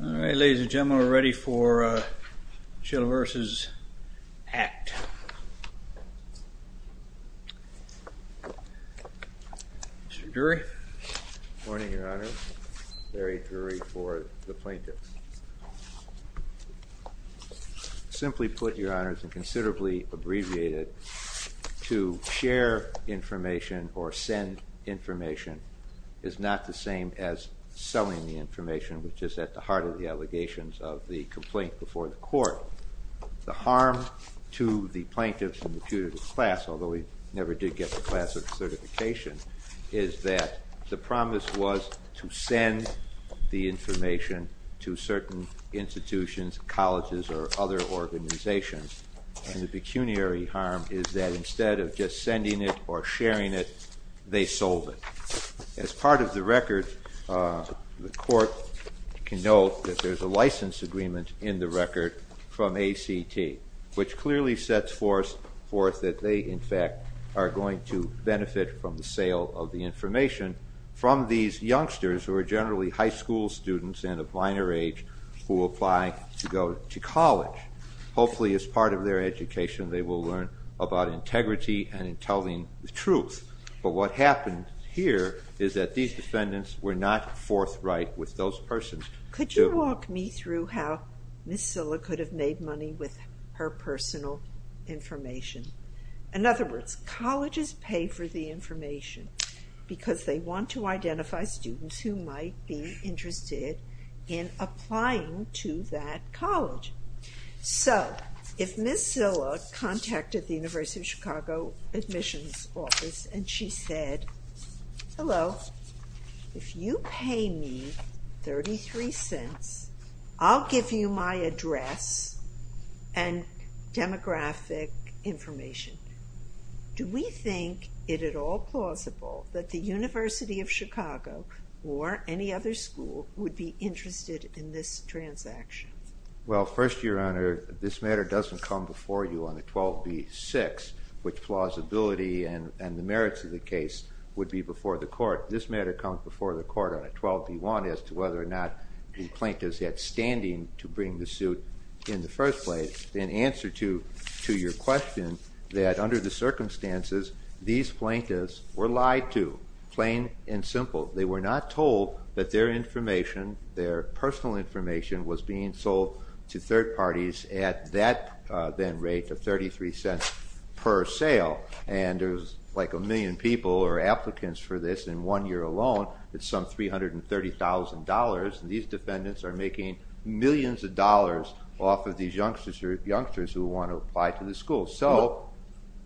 All right, ladies and gentlemen, we're ready for Silha v. ACT. Mr. Drury. Good morning, Your Honor. Larry Drury for the plaintiffs. Simply put, Your Honors, and considerably abbreviated, to share information or send information is not the same as selling the information, which is at the heart of the allegations of the complaint before the court. The harm to the plaintiffs and the punitive class, although we never did get the class of certification, is that the promise was to send the information to certain institutions, colleges, or other organizations. And the pecuniary harm is that instead of just sending it or sharing it, they sold it. As part of the record, the court can note that there's a license agreement in the record from ACT, which clearly sets forth that they, in fact, are going to benefit from the sale of the information from these youngsters who are generally high school students and of minor age who apply to go to college. Hopefully, as part of their education, they will learn about integrity and telling the truth. But what happened here is that these defendants were not forthright with those persons. Could you walk me through how Ms. Szilla could have made money with her personal information? In other words, colleges pay for the information because they want to identify students who might be interested in applying to that college. So, if Ms. Szilla contacted the University of Chicago admissions office and she said, Hello. If you pay me 33 cents, I'll give you my address and demographic information. Do we think it at all plausible that the University of Chicago or any other school would be interested in this transaction? Well, first, Your Honor, this matter doesn't come before you on a 12b-6, which plausibility and the merits of the case would be before the court. This matter comes before the court on a 12b-1 as to whether or not the plaintiffs had standing to bring the suit in the first place. In answer to your question that under the circumstances, these plaintiffs were lied to, plain and simple. They were not told that their information, their personal information, was being sold to third parties at that then rate of 33 cents per sale. And there's like a million people or applicants for this in one year alone at some $330,000. These defendants are making millions of dollars off of these youngsters who want to apply to the school. So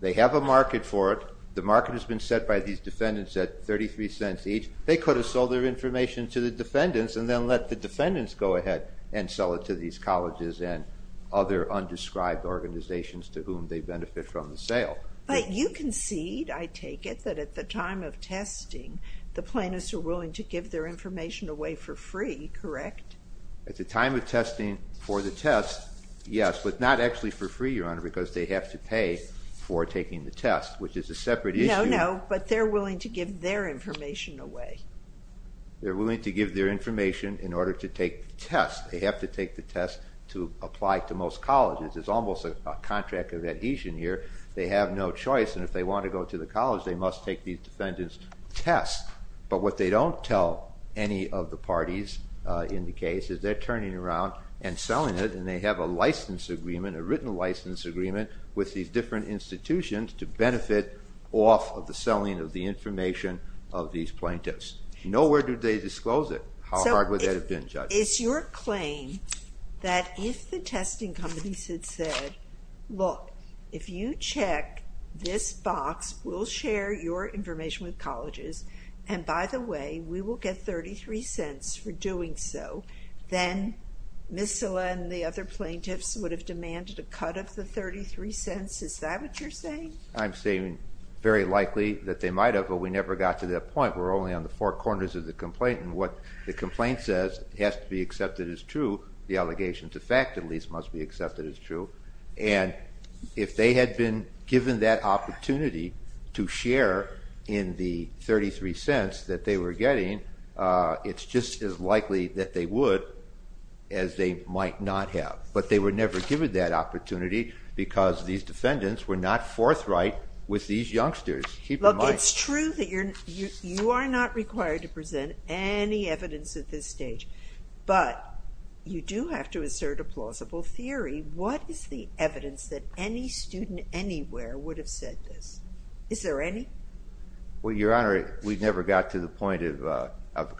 they have a market for it. The market has been set by these defendants at 33 cents each. They could have sold their information to the defendants and then let the defendants go ahead and sell it to these colleges and other undescribed organizations to whom they benefit from the sale. But you concede, I take it, that at the time of testing, the plaintiffs are willing to give their information away for free, correct? At the time of testing for the test, yes, but not actually for free, Your Honor, because they have to pay for taking the test, which is a separate issue. No, no, but they're willing to give their information away. They're willing to give their information in order to take the test. They have to take the test to apply to most colleges. There's almost a contract of adhesion here. They have no choice, and if they want to go to the college, they must take these defendants' test. But what they don't tell any of the parties in the case is they're turning around and selling it, and they have a license agreement, a written license agreement, with these different institutions to benefit off of the selling of the information of these plaintiffs. Nowhere do they disclose it. How hard would that have been, Judge? It's your claim that if the testing companies had said, look, if you check this box, we'll share your information with colleges, and by the way, we will get $0.33 for doing so, then Ms. Silla and the other plaintiffs would have demanded a cut of the $0.33. Is that what you're saying? I'm saying very likely that they might have, but we never got to that point. We're only on the four corners of the complaint, and what the complaint says has to be accepted as true. The allegations of fact, at least, must be accepted as true. And if they had been given that opportunity to share in the $0.33 that they were getting, it's just as likely that they would as they might not have. But they were never given that opportunity because these defendants were not forthright with these youngsters. Look, it's true that you are not required to present any evidence at this stage, but you do have to assert a plausible theory. What is the evidence that any student anywhere would have said this? Is there any? Well, Your Honor, we never got to the point of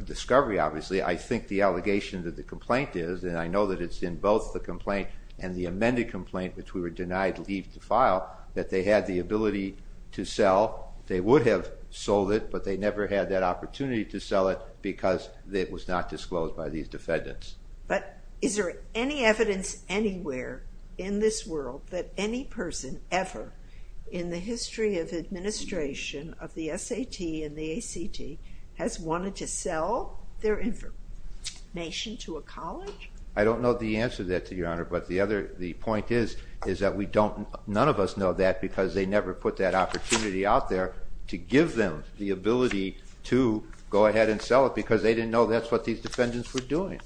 discovery, obviously. I think the allegation that the complaint is, and I know that it's in both the complaint and the amended complaint, which we were denied leave to file, that they had the ability to sell. They would have sold it, but they never had that opportunity to sell it because it was not disclosed by these defendants. But is there any evidence anywhere in this world that any person ever, in the history of administration of the SAT and the ACT, has wanted to sell their information to a college? I don't know the answer to that, Your Honor, but the point is that none of us know that because they never put that opportunity out there to give them the ability to go ahead and sell it because they didn't know that's what these defendants were doing.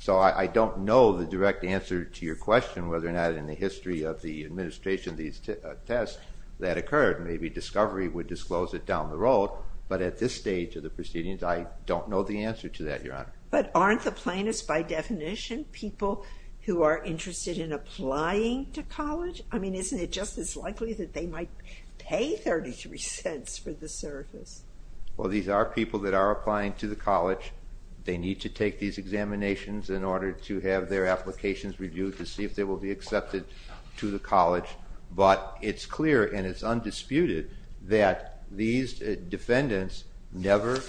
So I don't know the direct answer to your question whether or not in the history of the administration of these tests that occurred. Maybe discovery would disclose it down the road, but at this stage of the proceedings, I don't know the answer to that, Your Honor. But aren't the plaintiffs, by definition, people who are interested in applying to college? I mean, isn't it just as likely that they might pay 33 cents for the service? Well, these are people that are applying to the college. They need to take these examinations in order to have their applications reviewed to see if they will be accepted to the college. But it's clear and it's undisputed that these defendants never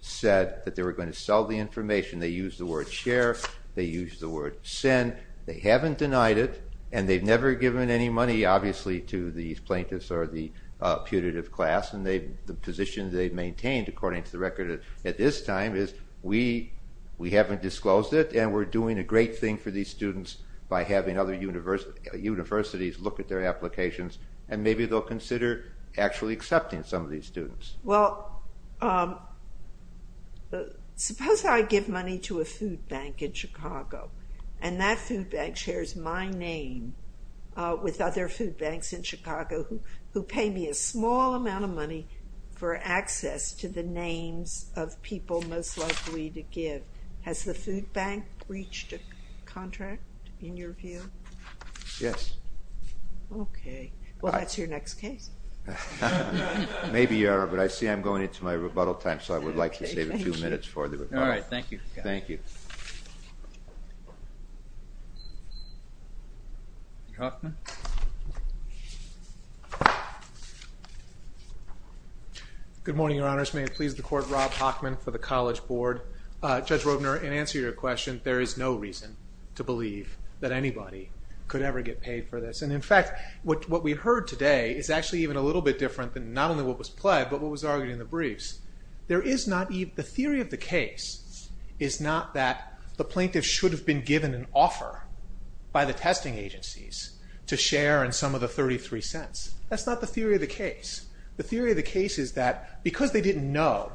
said that they were going to sell the information. They used the word share. They used the word send. They haven't denied it, and they've never given any money, obviously, to these plaintiffs or the putative class, and the position they've maintained, according to the record at this time, is we haven't disclosed it and we're doing a great thing for these students by having other universities look at their applications and maybe they'll consider actually accepting some of these students. Well, suppose I give money to a food bank in Chicago, and that food bank shares my name with other food banks in Chicago who pay me a small amount of money for access to the names of people most likely to give. Has the food bank reached a contract, in your view? Yes. Okay. Well, that's your next case. Maybe you are, but I see I'm going into my rebuttal time, so I would like to save a few minutes for the rebuttal. All right. Thank you. Thank you. Mr. Hochman? Good morning, Your Honors. First, may it please the Court, Rob Hochman for the College Board. Judge Robner, in answer to your question, there is no reason to believe that anybody could ever get paid for this. And, in fact, what we heard today is actually even a little bit different than not only what was pled, but what was argued in the briefs. The theory of the case is not that the plaintiff should have been given an offer by the testing agencies to share in some of the 33 cents. That's not the theory of the case. The theory of the case is that because they didn't know,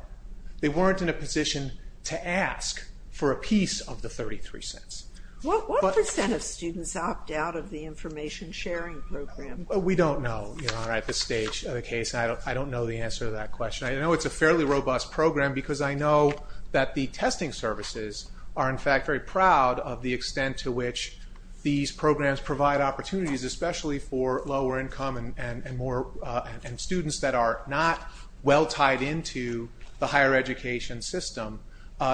they weren't in a position to ask for a piece of the 33 cents. What percent of students opt out of the information sharing program? We don't know at this stage of the case. I don't know the answer to that question. I know it's a fairly robust program because I know that the testing services are, in fact, very proud of the extent to which these programs provide opportunities, especially for lower income and students that are not well tied into the higher education system,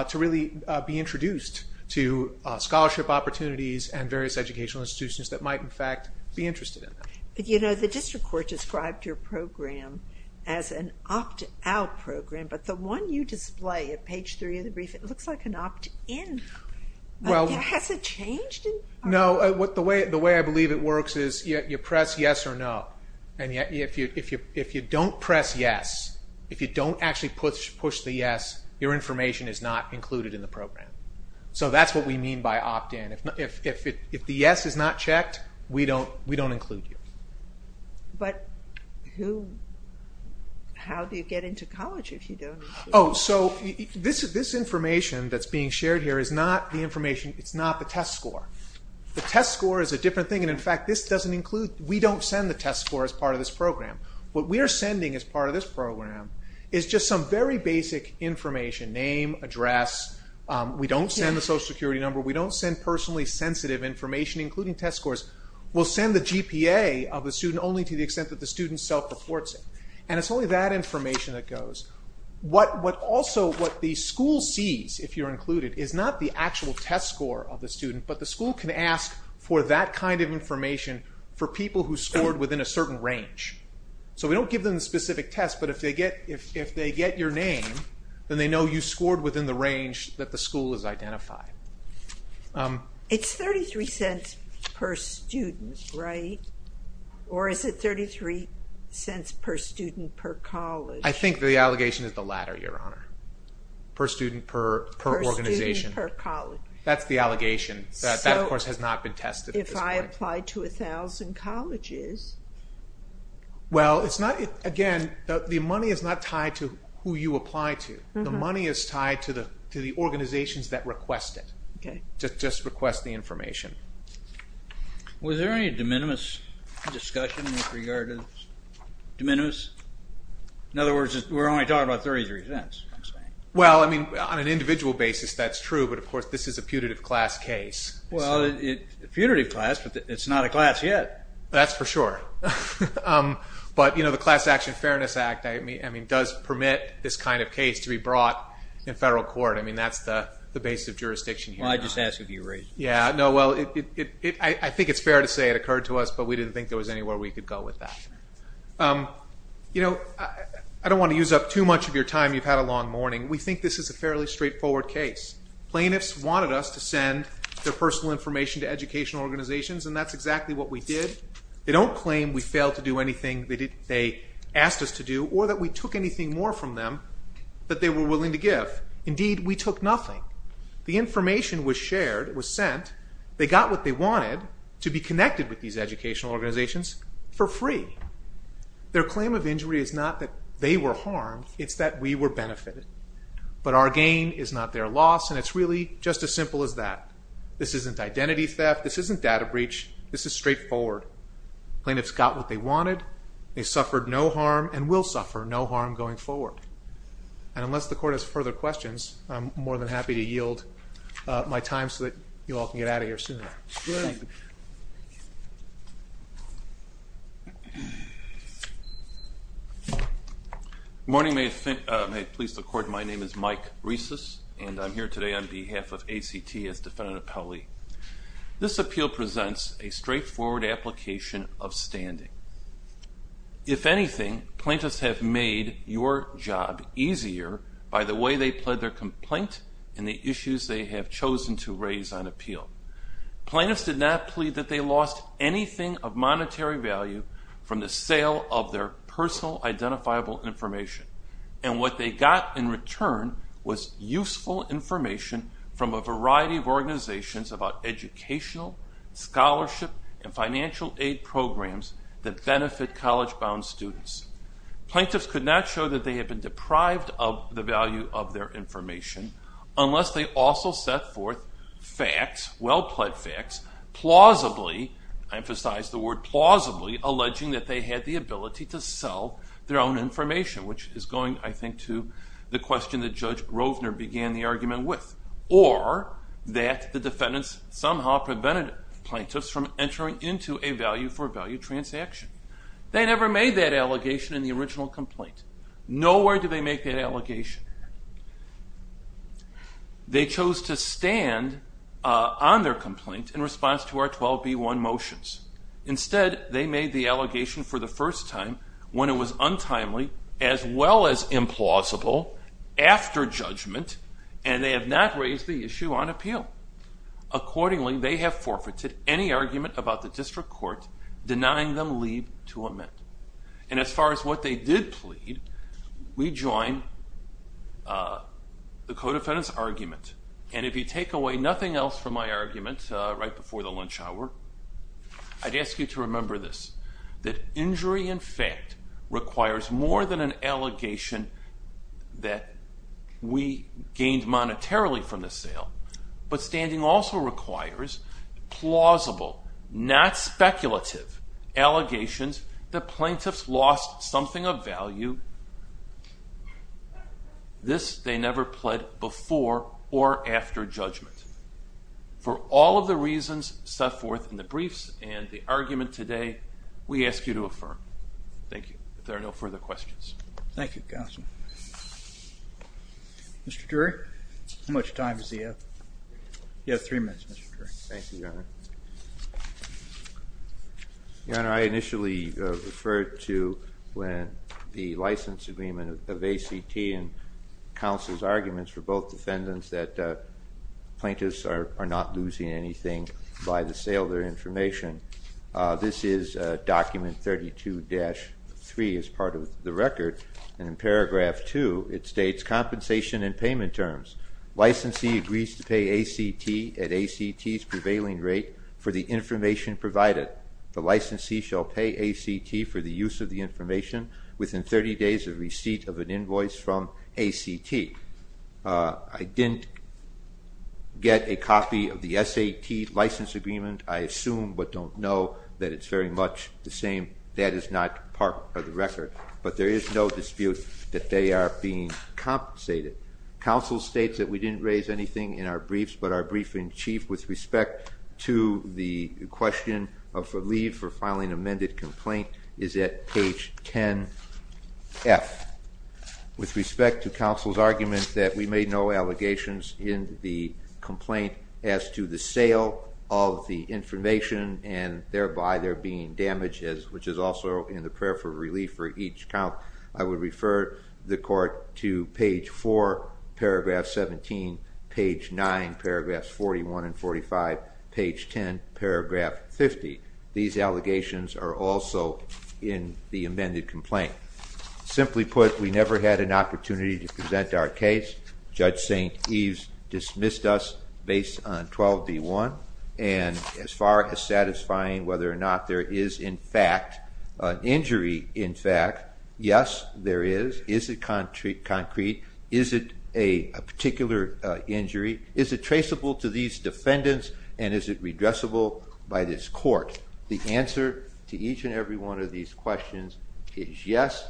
to really be introduced to scholarship opportunities and various educational institutions that might, in fact, be interested in that. You know, the district court described your program as an opt-out program, but the one you display at page three of the brief, it looks like an opt-in. Has it changed? No. The way I believe it works is you press yes or no, and if you don't press yes, if you don't actually push the yes, your information is not included in the program. So that's what we mean by opt-in. If the yes is not checked, we don't include you. But how do you get into college if you don't? Oh, so this information that's being shared here is not the information, it's not the test score. The test score is a different thing, and, in fact, this doesn't include, we don't send the test score as part of this program. What we are sending as part of this program is just some very basic information, name, address. We don't send the social security number. We don't send personally sensitive information, including test scores. We'll send the GPA of the student only to the extent that the student self-reports it, and it's only that information that goes. Also, what the school sees, if you're included, is not the actual test score of the student, but the school can ask for that kind of information for people who scored within a certain range. So we don't give them the specific test, but if they get your name, then they know you scored within the range that the school has identified. It's $0.33 per student, right? Or is it $0.33 per student per college? I think the allegation is the latter, Your Honor. Per student, per organization. Per student, per college. That's the allegation. That, of course, has not been tested at this point. So if I apply to 1,000 colleges? Well, it's not, again, the money is not tied to who you apply to. The money is tied to the organizations that request it, just request the information. Was there any de minimis discussion with regard to de minimis? In other words, we're only talking about $0.33. Well, I mean, on an individual basis, that's true, but, of course, this is a putative class case. Well, putative class, but it's not a class yet. That's for sure. But, you know, the Class Action Fairness Act, I mean, does permit this kind of case to be brought in federal court. I mean, that's the basis of jurisdiction here. Well, I just asked if you agreed. Yeah, no, well, I think it's fair to say it occurred to us, but we didn't think there was anywhere we could go with that. You know, I don't want to use up too much of your time. You've had a long morning. We think this is a fairly straightforward case. Plaintiffs wanted us to send their personal information to educational organizations, and that's exactly what we did. They don't claim we failed to do anything they asked us to do or that we took anything more from them that they were willing to give. Indeed, we took nothing. The information was shared, was sent. They got what they wanted to be connected with these educational organizations for free. Their claim of injury is not that they were harmed. It's that we were benefited. But our gain is not their loss, and it's really just as simple as that. This isn't identity theft. This isn't data breach. This is straightforward. Plaintiffs got what they wanted. They suffered no harm and will suffer no harm going forward. And unless the court has further questions, I'm more than happy to yield my time so that you all can get out of here sooner. Good. Good morning. May it please the Court, my name is Mike Reces, and I'm here today on behalf of ACT as defendant appellee. This appeal presents a straightforward application of standing. If anything, plaintiffs have made your job easier by the way they pled their complaint and the issues they have chosen to raise on appeal. Plaintiffs did not plead that they lost anything of monetary value from the sale of their personal identifiable information. And what they got in return was useful information from a variety of organizations about educational, scholarship, and financial aid programs that benefit college-bound students. Plaintiffs could not show that they had been deprived of the value of their information unless they also set forth facts, well-pleaded facts, plausibly, I emphasize the word plausibly, alleging that they had the ability to sell their own information, which is going I think to the question that Judge Rovner began the argument with, or that the defendants somehow prevented plaintiffs from entering into a value-for-value transaction. They never made that allegation in the original complaint. Nowhere did they make that allegation. They chose to stand on their complaint in response to our 12b1 motions. Instead, they made the allegation for the first time when it was untimely, as well as implausible, after judgment, and they have not raised the issue on appeal. Accordingly, they have forfeited any argument about the district court, denying them leave to amend. And as far as what they did plead, we join the co-defendant's argument. And if you take away nothing else from my argument right before the lunch hour, I'd ask you to remember this, that injury in fact requires more than an allegation that we gained monetarily from the sale, but standing also requires plausible, not speculative, allegations that plaintiffs lost something of value. This they never pled before or after judgment. For all of the reasons set forth in the briefs and the argument today, we ask you to affirm. Thank you. If there are no further questions. Thank you, counsel. Mr. Dury, how much time does he have? You have three minutes, Mr. Dury. Thank you, Your Honor. Your Honor, I initially referred to when the license agreement of ACT and counsel's arguments for both defendants that plaintiffs are not losing anything by the sale of their information. This is document 32-3 as part of the record, and in paragraph 2 it states compensation and payment terms. Licensee agrees to pay ACT at ACT's prevailing rate for the information provided. The licensee shall pay ACT for the use of the information within 30 days of receipt of an invoice from ACT. I didn't get a copy of the SAT license agreement, I assume, but don't know that it's very much the same. That is not part of the record. But there is no dispute that they are being compensated. Counsel states that we didn't raise anything in our briefs, but our briefing chief with respect to the question of leave for filing an amended complaint is at page 10F. With respect to counsel's argument that we made no allegations in the complaint as to the sale of the information and thereby there being damages, which is also in the prayer for relief for each count, I would refer the court to page 4, paragraph 17, page 9, paragraphs 41 and 45, page 10, paragraph 50. These allegations are also in the amended complaint. Simply put, we never had an opportunity to present our case. Judge St. Eves dismissed us based on 12B1. And as far as satisfying whether or not there is, in fact, an injury, in fact, yes, there is. Is it concrete? Is it a particular injury? Is it traceable to these defendants and is it redressable by this court? The answer to each and every one of these questions is yes,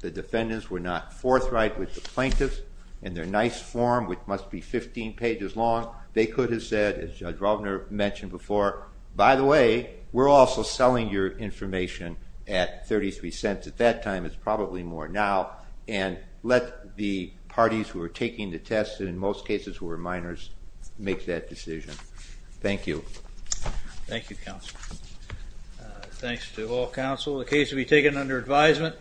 the defendants were not forthright with the plaintiffs in their nice form, which must be 15 pages long. They could have said, as Judge Rovner mentioned before, by the way, we're also selling your information at 33 cents. At that time, it's probably more now. And let the parties who are taking the test, in most cases who are minors, make that decision. Thank you. Thank you, counsel. Thanks to all counsel. The case will be taken under advisement.